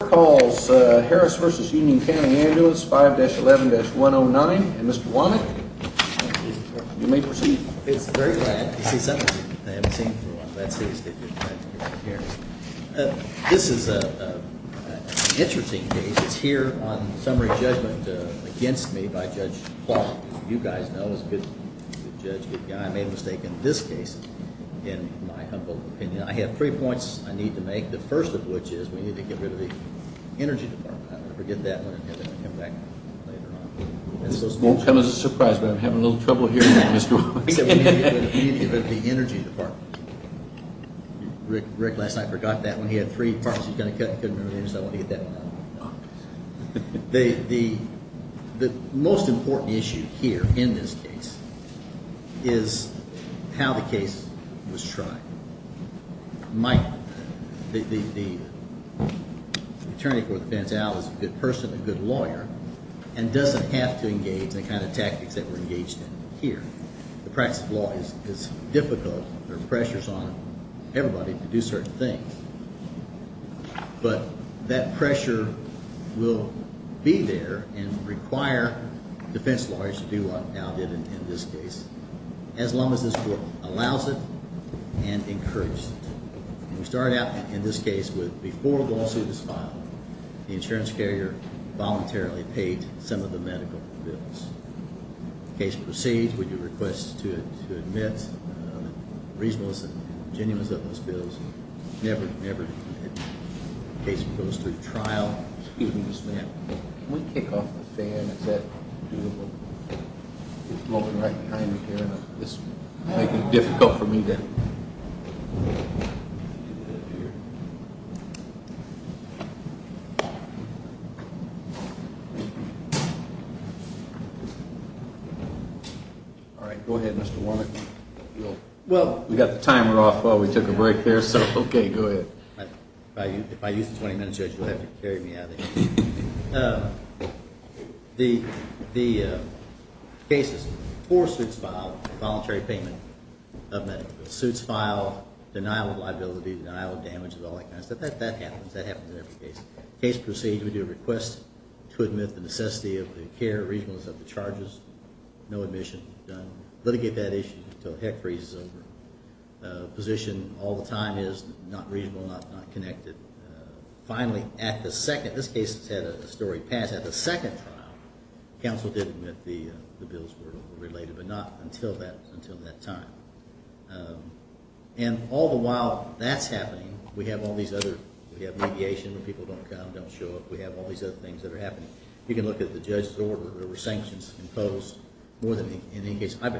Calls Harris v. Union County Ambulance 5-11-109. Mr. Womack, you may proceed. It's very glad to see someone I haven't seen for a while. That's the extent of my experience. This is an interesting case. It's here on summary judgment against me by Judge Clark. You guys know he's a good judge, good guy. I made a mistake in this case, in my humble opinion. I have three points I need to make. The first of which is we need to get rid of the energy department. I'm going to forget that one and have it come back later on. This won't come as a surprise, but I'm having a little trouble hearing you, Mr. Womack. We need to get rid of the energy department. Rick, last night, forgot that one. He had three parts he was going to cut and couldn't remember them, so I want to get that one out. The most important issue here in this case is how the case was tried. The attorney for the defense, Al, is a good person, a good lawyer, and doesn't have to engage the kind of tactics that we're engaged in here. The practice of law is difficult. There are pressures on everybody to do certain things. But that pressure will be there and require defense lawyers to do what Al did in this case. As long as this court allows it and encourages it. We started out in this case with before the lawsuit was filed, the insurance carrier voluntarily paid some of the medical bills. The case proceeds when you request to admit the reasonableness and genuineness of those bills. The case never goes through trial. Excuse me, Mr. Womack. Can we kick off the fan? Is that doable? It's blowing right behind me here and it's making it difficult for me. All right, go ahead, Mr. Womack. Well, we got the timer off while we took a break there, so okay, go ahead. If I use the 20 minutes, Judge, you'll have to carry me out of here. The case is four suits filed, voluntary payment of medical bills. Suits filed, denial of liability, denial of damages, all that kind of stuff. That happens. That happens in every case. Case proceeds, we do a request to admit the necessity of the care, reasonableness of the charges, no admission, done. Litigate that issue until heck freezes over. Position all the time is not reasonable, not connected. Finally, at the second, this case has had a story pass. At the second trial, counsel did admit the bills were related, but not until that time. And all the while that's happening, we have all these other, we have mediation when people don't come, don't show up. We have all these other things that are happening. You can look at the judge's order, there were sanctions imposed more than in any case I've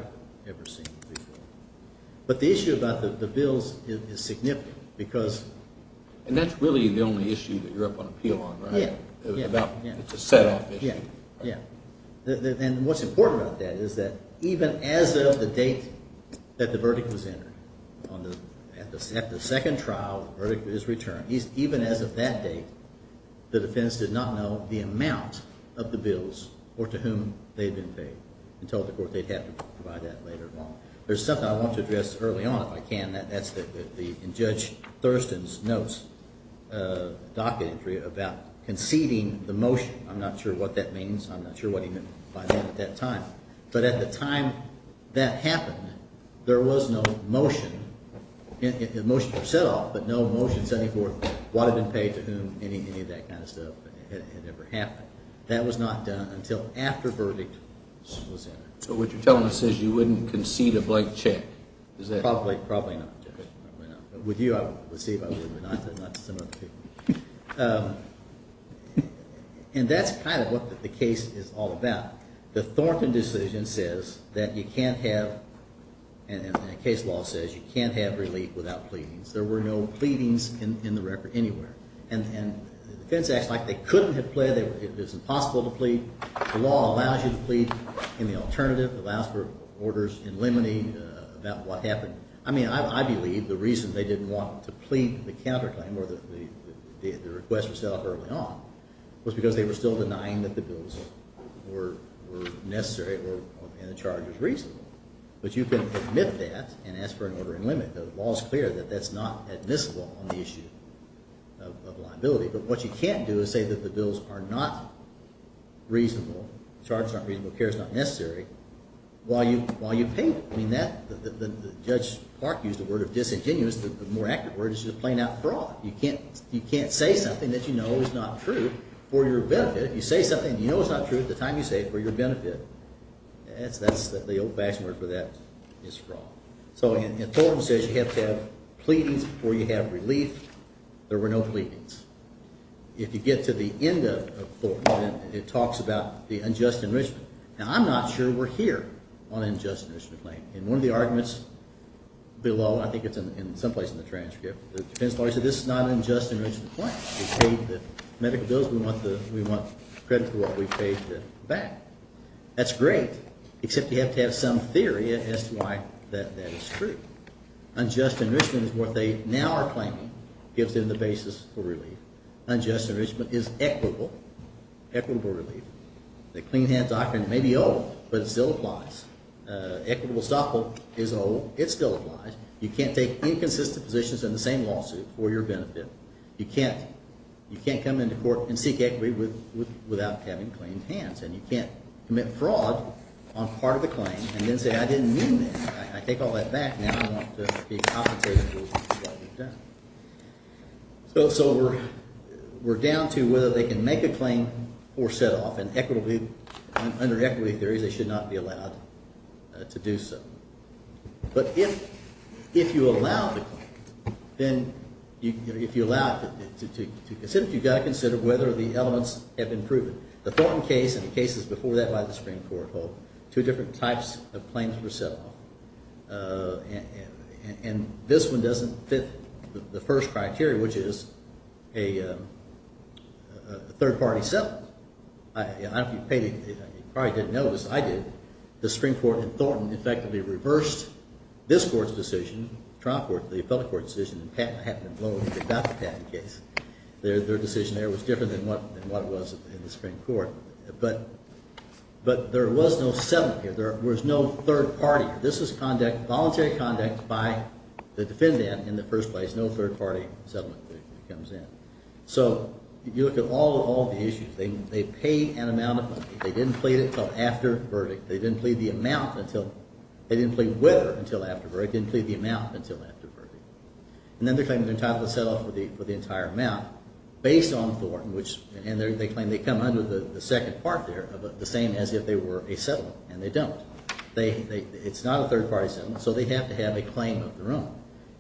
ever seen before. But the issue about the bills is significant because And that's really the only issue that you're up on appeal on, right? Yeah, yeah. It's a set off issue. Yeah, yeah. And what's important about that is that even as of the date that the verdict was entered, at the second trial, the verdict is returned. Even as of that date, the defense did not know the amount of the bills or to whom they had been paid. And told the court they'd have to provide that later on. There's something I want to address early on if I can, and that's in Judge Thurston's notes, docket entry, about conceding the motion. I'm not sure what that means. I'm not sure what he meant by that at that time. But at the time that happened, there was no motion. The motion was set off, but no motion 74 would have been paid to whom any of that kind of stuff had ever happened. That was not done until after verdict was entered. So what you're telling us is you wouldn't concede a blank check. Probably not, Judge. With you I would concede, but not to some of the people. And that's kind of what the case is all about. The Thornton decision says that you can't have, and the case law says you can't have relief without pleadings. There were no pleadings in the record anywhere. And the defense acts like they couldn't have pleaded, it was impossible to plead. The law allows you to plead in the alternative, allows for orders in limine about what happened. I mean, I believe the reason they didn't want to plead the counterclaim or the request was set up early on was because they were still denying that the bills were necessary and the charge was reasonable. But you can admit that and ask for an order in limine. The law is clear that that's not admissible on the issue of liability. But what you can't do is say that the bills are not reasonable, the charge is not reasonable, the care is not necessary, while you plead. I mean, Judge Clark used the word of disingenuous. The more accurate word is just plain out fraud. You can't say something that you know is not true for your benefit. You say something you know is not true at the time you say it for your benefit. That's the old-fashioned word for that is fraud. So Thornton says you have to have pleadings before you have relief. There were no pleadings. If you get to the end of Thornton, it talks about the unjust enrichment. Now, I'm not sure we're here on an unjust enrichment claim. In one of the arguments below, I think it's in some place in the transcript, the defense lawyer said this is not an unjust enrichment claim. We paid the medical bills. We want credit for what we paid back. That's great, except you have to have some theory as to why that is true. Unjust enrichment is what they now are claiming gives them the basis for relief. Unjust enrichment is equitable, equitable relief. The clean hands doctrine may be old, but it still applies. Equitable stockholding is old. It still applies. You can't take inconsistent positions in the same lawsuit for your benefit. You can't come into court and seek equity without having clean hands. And you can't commit fraud on part of the claim and then say I didn't mean that. I take all that back and now I want to be compensated for what I've done. So we're down to whether they can make a claim or set off. Under equitable theories, they should not be allowed to do so. But if you allow the claim, then if you allow it to be considered, you've got to consider whether the elements have been proven. The Thornton case and the cases before that by the Supreme Court hold two different types of claims for set off. And this one doesn't fit the first criteria, which is a third party settlement. If you probably didn't notice, I did. The Supreme Court in Thornton effectively reversed this court's decision, trial court, the appellate court's decision, and Patent and Loan got the patent case. Their decision there was different than what it was in the Supreme Court. But there was no settlement here. There was no third party. This is voluntary conduct by the defendant in the first place. No third party settlement comes in. So if you look at all of the issues, they pay an amount of money. They didn't plead it until after verdict. They didn't plead the amount until – they didn't plead whether until after verdict. They didn't plead the amount until after verdict. And then they're claiming they're entitled to set off for the entire amount based on Thornton, and they claim they come under the second part there of the same as if they were a settlement, and they don't. It's not a third party settlement, so they have to have a claim of their own.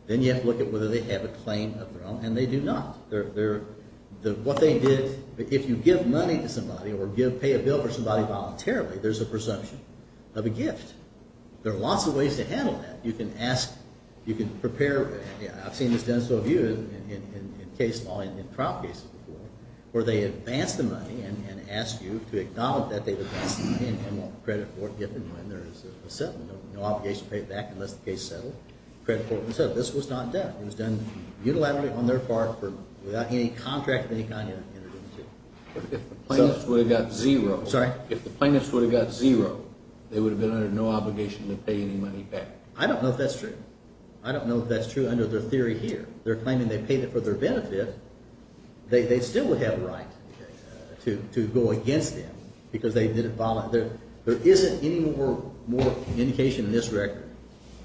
Then you have to look at whether they have a claim of their own, and they do not. What they did – if you give money to somebody or pay a bill for somebody voluntarily, there's a presumption of a gift. There are lots of ways to handle that. You can ask – you can prepare – I've seen this done so in case law in trial cases before, where they advance the money and ask you to acknowledge that they've advanced the money and want credit for it given when there is a settlement. No obligation to pay it back unless the case is settled. Credit for it when settled. This was not done. It was done unilaterally on their part without any contract of any kind. If the plaintiffs would have got zero – Sorry? If the plaintiffs would have got zero, they would have been under no obligation to pay any money back. I don't know if that's true. I don't know if that's true under their theory here. They're claiming they paid it for their benefit. They still would have a right to go against them because they didn't – there isn't any more indication in this record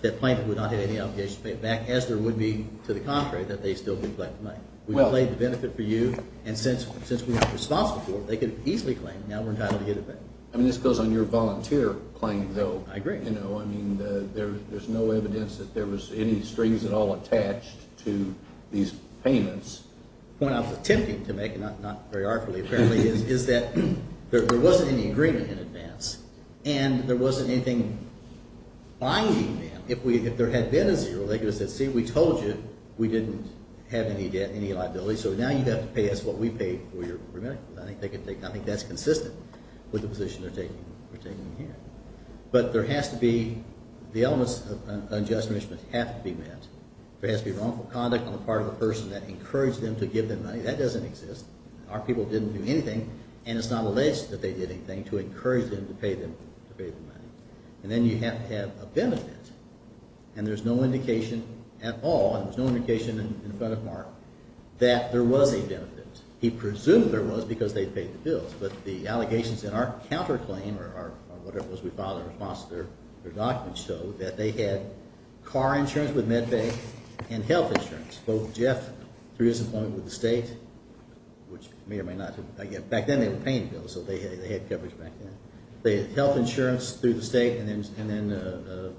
that plaintiffs would not have any obligation to pay it back as there would be to the contrary that they still did collect the money. We've paid the benefit for you, and since we weren't responsible for it, they could have easily claimed now we're entitled to get it back. I mean this goes on your volunteer claim though. I agree. I mean there's no evidence that there was any strings at all attached to these payments. The point I was attempting to make, and not very artfully apparently, is that there wasn't any agreement in advance, and there wasn't anything binding them. If there had been a zero, they could have said, see, we told you we didn't have any debt, any liability, so now you have to pay us what we paid for your remittance. I think that's consistent with the position they're taking here. But there has to be – the elements of unjust enrichment have to be met. There has to be wrongful conduct on the part of the person that encouraged them to give them money. That doesn't exist. Our people didn't do anything, and it's not alleged that they did anything to encourage them to pay the money. And then you have to have a benefit, and there's no indication at all, and there's no indication in front of Mark that there was a benefit. He presumed there was because they paid the bills, but the allegations in our counterclaim or whatever it was we filed in response to their documents showed that they had car insurance with MedBay and health insurance, both Jeff through his employment with the state, which may or may not have – back then they were paying bills, so they had coverage back then. They had health insurance through the state, and then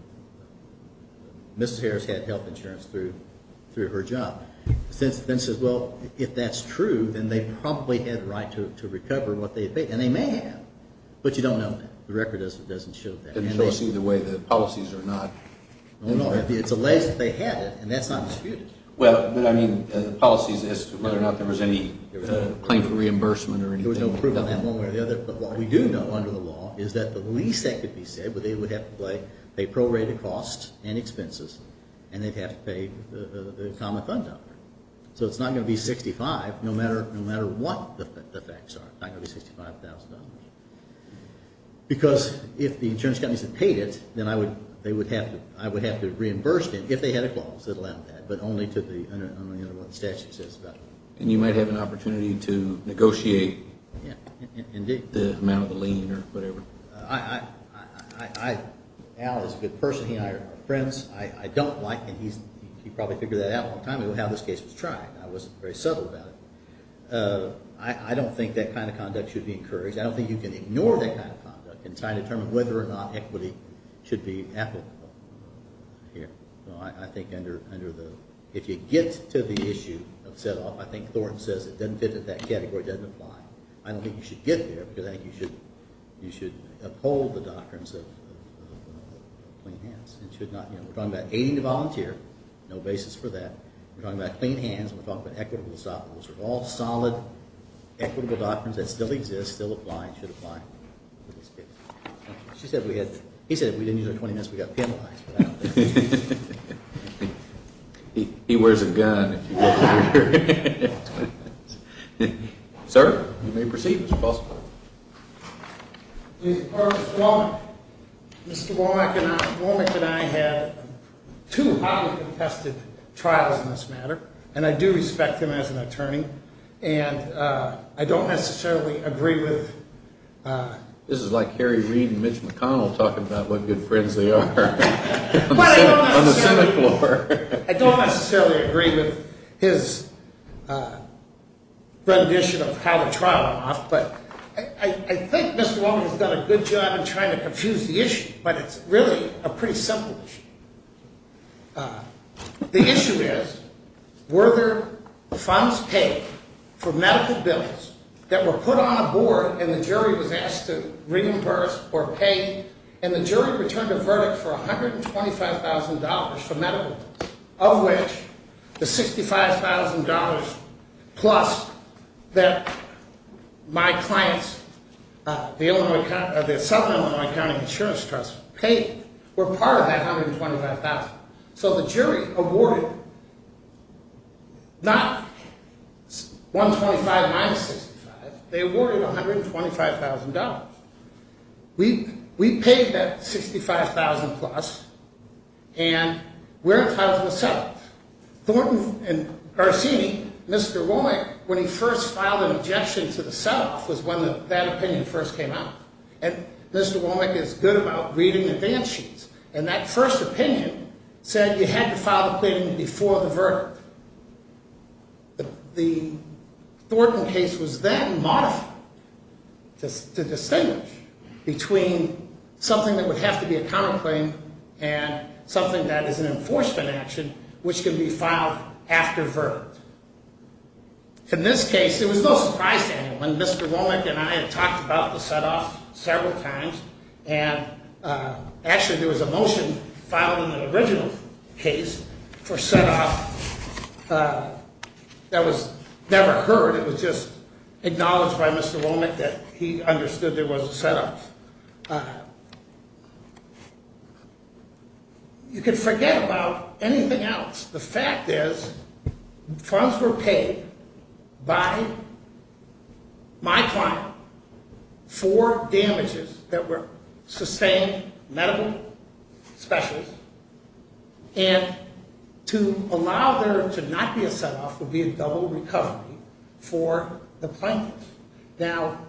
Mrs. Harris had health insurance through her job. Then it says, well, if that's true, then they probably had a right to recover what they had paid, and they may have, but you don't know that. The record doesn't show that. It doesn't show us either way. The policies are not – No, no. It's alleged that they had it, and that's not disputed. Well, but I mean the policies as to whether or not there was any claim for reimbursement or anything. There was no proof on that one way or the other. But what we do know under the law is that the least that could be said would be they would have to pay prorated costs and expenses, and they'd have to pay the common fund dollar. So it's not going to be $65,000, no matter what the facts are. It's not going to be $65,000. Because if the insurance companies had paid it, then I would have to reimburse them if they had a clause that allowed that, but only under what the statute says about it. And you might have an opportunity to negotiate the amount of the lien or whatever. Al is a good person. He and I are friends. I don't like – and he probably figured that out a long time ago how this case was tried. I wasn't very subtle about it. I don't think that kind of conduct should be encouraged. I don't think you can ignore that kind of conduct and try to determine whether or not equity should be applicable here. I think under the – if you get to the issue of set-off, I think Thornton says it doesn't fit that that category doesn't apply. I don't think you should get there because I think you should uphold the doctrines of clean hands. We're talking about aiding the volunteer. No basis for that. We're talking about clean hands. We're talking about equitable – all solid, equitable doctrines that still exist, still apply and should apply in this case. He said if we didn't use our 20 minutes, we got penalized. He wears a gun. Sir, you may proceed if it's possible. Mr. Womack and I had two highly contested trials in this matter, and I do respect him as an attorney, and I don't necessarily agree with – this is like Harry Reid and Mitch McConnell talking about what good friends they are on the Senate floor. I don't necessarily agree with his rendition of how the trial went off, but I think Mr. Womack has done a good job in trying to confuse the issue, but it's really a pretty simple issue. The issue is were there funds paid for medical bills that were put on a board and the jury was asked to reimburse or pay, and the jury returned a verdict for $125,000 for medical bills, of which the $65,000 plus that my clients, the Southern Illinois County Insurance Trust, paid were part of that $125,000. So the jury awarded not $125,000 minus $65,000. They awarded $125,000. We paid that $65,000 plus, and we're entitled to a set-off. Thornton and Garcini, Mr. Womack, when he first filed an objection to the set-off was when that opinion first came out, and Mr. Womack is good about reading advance sheets, and that first opinion said you had to file the claim before the verdict. The Thornton case was then modified to distinguish between something that would have to be a counterclaim and something that is an enforcement action which can be filed after verdict. In this case, it was no surprise to anyone. Mr. Womack and I had talked about the set-off several times, and actually there was a motion filed in the original case for set-off that was never heard. It was just acknowledged by Mr. Womack that he understood there was a set-off. You can forget about anything else. The fact is funds were paid by my client for damages that were sustained, medical, specials, and to allow there to not be a set-off would be a double recovery for the plaintiffs. Now,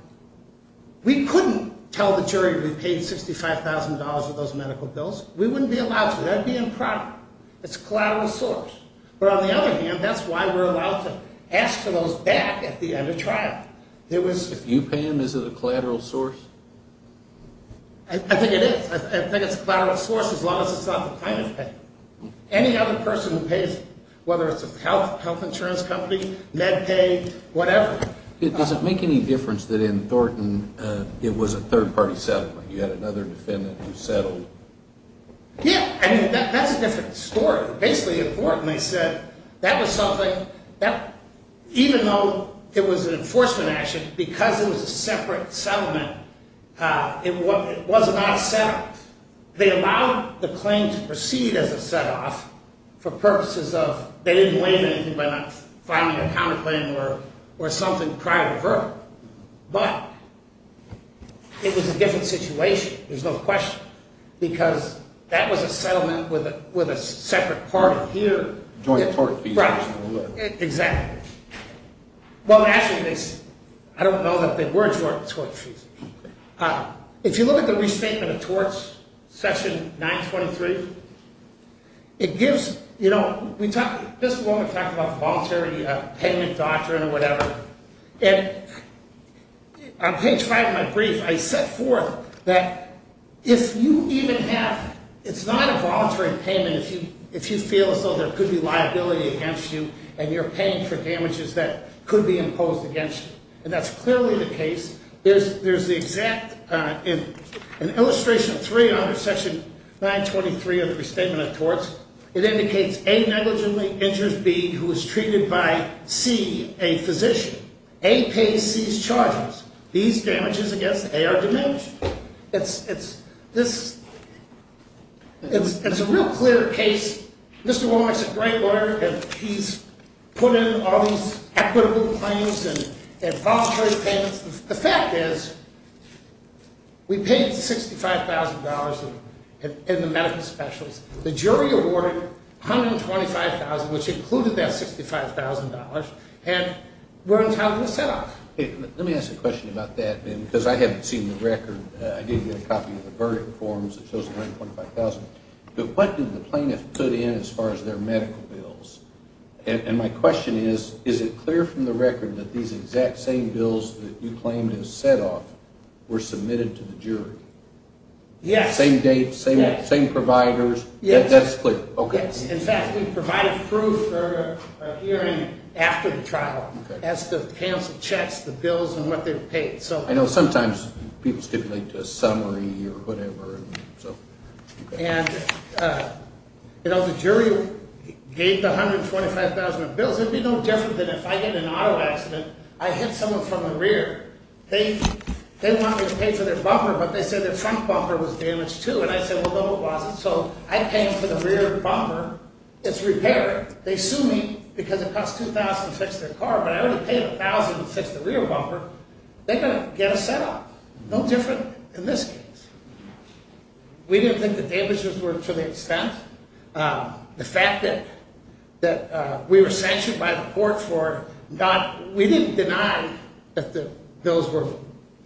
we couldn't tell the jury we paid $65,000 for those medical bills. We wouldn't be allowed to. That would be improper. It's a collateral source. But on the other hand, that's why we're allowed to ask for those back at the end of trial. If you pay them, is it a collateral source? I think it is. I think it's a collateral source as long as it's not the plaintiff paying. Any other person who pays them, whether it's a health insurance company, MedPay, whatever. Does it make any difference that in Thornton it was a third-party settlement? You had another defendant who settled. Yeah. I mean, that's a different story. Basically, in Thornton, they said that was something that even though it was an enforcement action, because it was a separate settlement, it was not a set-off. They allowed the claim to proceed as a set-off for purposes of they didn't blame anything by not finding a counterclaim or something prior to the verdict. But it was a different situation. There's no question. Because that was a settlement with a separate party here. Joint tort fees. Right. Exactly. Well, actually, I don't know that they were joint tort fees. If you look at the restatement of torts, Section 923, it gives, you know, this is where we talk about the voluntary penitent doctrine or whatever. And on page 5 of my brief, I set forth that if you even have ‑‑ it's not a voluntary payment if you feel as though there could be liability against you and you're paying for damages that could be imposed against you. And that's clearly the case. There's an illustration of three under Section 923 of the Restatement of Torts. It indicates A negligently injures B who is treated by C, a physician. A pays C's charges. B's damages against A are diminished. It's a real clear case. Mr. Wall makes a great lawyer, and he's put in all these equitable claims and voluntary payments. The fact is we paid $65,000 in the medical specials. The jury awarded $125,000, which included that $65,000, and we're entitled to setoff. Let me ask a question about that, because I haven't seen the record. I did get a copy of the verdict forms that shows the $125,000. But what did the plaintiff put in as far as their medical bills? And my question is, is it clear from the record that these exact same bills that you claimed as setoff were submitted to the jury? Yes. Same date, same providers? Yes. Okay. In fact, we provided proof for a hearing after the trial as to cancel checks, the bills, and what they paid. I know sometimes people stipulate a summary or whatever. And, you know, the jury gave the $125,000 of bills. It would be no different than if I get in an auto accident, I hit someone from the rear. They want me to pay for their bumper, but they said their front bumper was damaged, too. And I said, well, no, it wasn't. So I pay for the rear bumper. It's repaired. They sue me because it costs $2,000 to fix their car, but I already paid $1,000 to fix the rear bumper. They're going to get a setoff. No different in this case. We didn't think the damages were to the extent. The fact that we were sanctioned by the court for not – we didn't deny that the bills were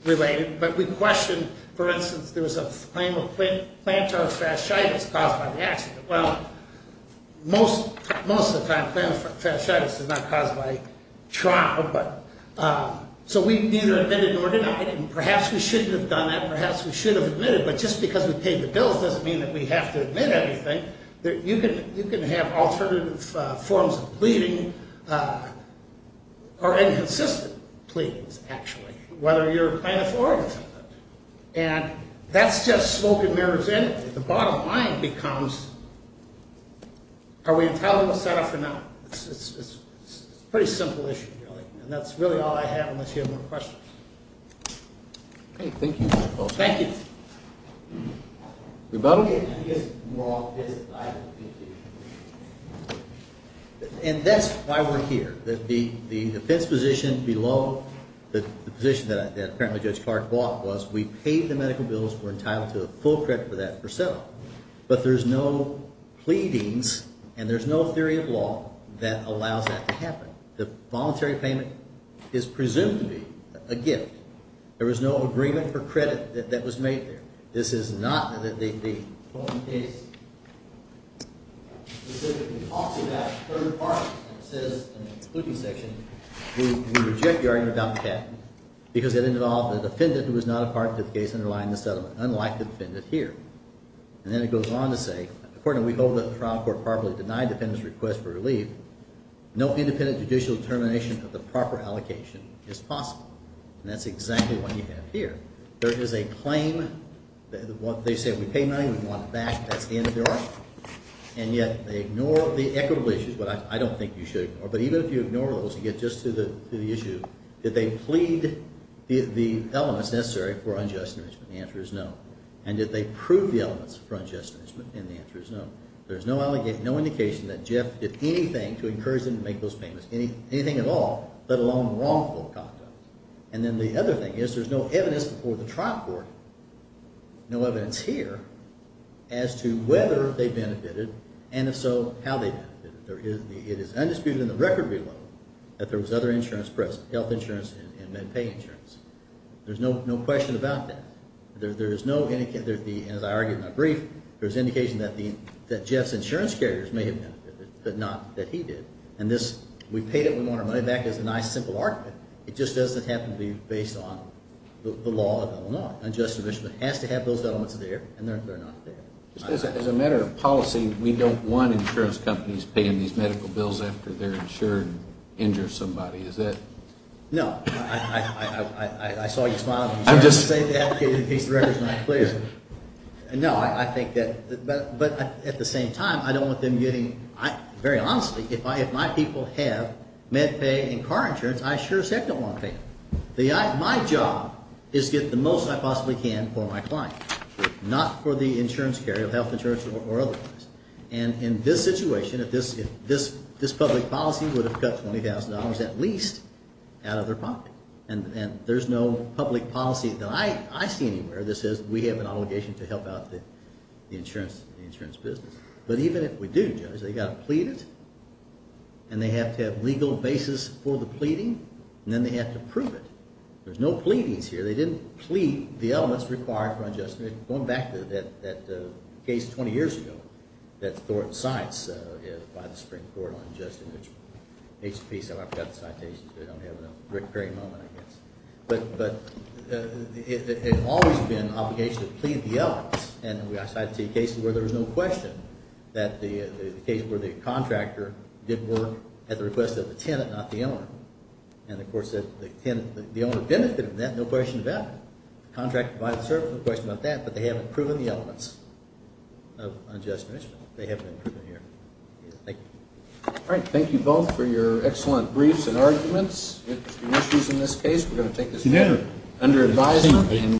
related, but we questioned. For instance, there was a claim of plantar fasciitis caused by the accident. Well, most of the time plantar fasciitis is not caused by trauma. So we neither admitted nor denied it. And perhaps we shouldn't have done that. Perhaps we should have admitted. But just because we paid the bills doesn't mean that we have to admit everything. You can have alternative forms of pleading or inconsistent pleadings, actually, whether you're planning for it or not. And that's just smoke and mirrors energy. The bottom line becomes, are we entitled to a setoff or not? It's a pretty simple issue, really. And that's really all I have unless you have more questions. Okay, thank you. Thank you. Rebuttal? And that's why we're here. The defense position below the position that apparently Judge Clark bought was we paid the medical bills. We're entitled to a full credit for that for setoff. But there's no pleadings and there's no theory of law that allows that to happen. The voluntary payment is presumed to be a gift. There was no agreement for credit that was made there. This is not that the case specifically talks about third parties. It says in the excluding section, we reject the argument about the patent. Because it involved the defendant who was not a part of the case underlying the settlement, unlike the defendant here. And then it goes on to say, according to we hold that the trial court properly denied the defendant's request for relief, no independent judicial determination of the proper allocation is possible. And that's exactly what you have here. There is a claim. They say we pay money, we want it back, that's the end of the argument. And yet they ignore the equitable issues, which I don't think you should ignore. But even if you ignore those, you get just to the issue. Did they plead the elements necessary for unjust enrichment? The answer is no. And did they prove the elements for unjust enrichment? And the answer is no. There's no indication that Jeff did anything to encourage them to make those payments, anything at all, let alone wrongful conduct. And then the other thing is there's no evidence before the trial court, no evidence here, as to whether they benefited, and if so, how they benefited. It is undisputed in the record we know that there was other insurance present, health insurance and MedPay insurance. There's no question about that. And as I argued in my brief, there's indication that Jeff's insurance carriers may have benefited, but not that he did. And this, we paid it, we want our money back, is a nice, simple argument. It just doesn't happen to be based on the law of Illinois. Unjust enrichment has to have those elements there, and they're not there. As a matter of policy, we don't want insurance companies paying these medical bills after they're insured injure somebody, is it? No. I saw you smile when you tried to say that. No, I think that, but at the same time, I don't want them getting, very honestly, if my people have MedPay and car insurance, I sure as heck don't want to pay them. My job is to get the most I possibly can for my client, not for the insurance carrier, health insurance or other things. And in this situation, if this public policy would have cut $20,000 at least out of their pocket, and there's no public policy that I see anywhere that says we have an obligation to help out the insurance business. But even if we do, Judge, they've got to plead it, and they have to have legal basis for the pleading, and then they have to prove it. There's no pleadings here. They didn't plead the elements required for unjust enrichment. Going back to that case 20 years ago, that Thornton Science filed a Supreme Court on unjust enrichment. I forgot the citations, but I don't have them. Rick Perry moment, I guess. But it's always been an obligation to plead the elements. And I cited two cases where there was no question that the case where the contractor did work at the request of the tenant, not the owner. And the court said the tenant, the owner benefited from that, no question about it. No question about that, but they haven't proven the elements of unjust enrichment. They haven't been proven here. Thank you. All right. Thank you both for your excellent briefs and arguments. Interesting issues in this case. We're going to take this under advisement.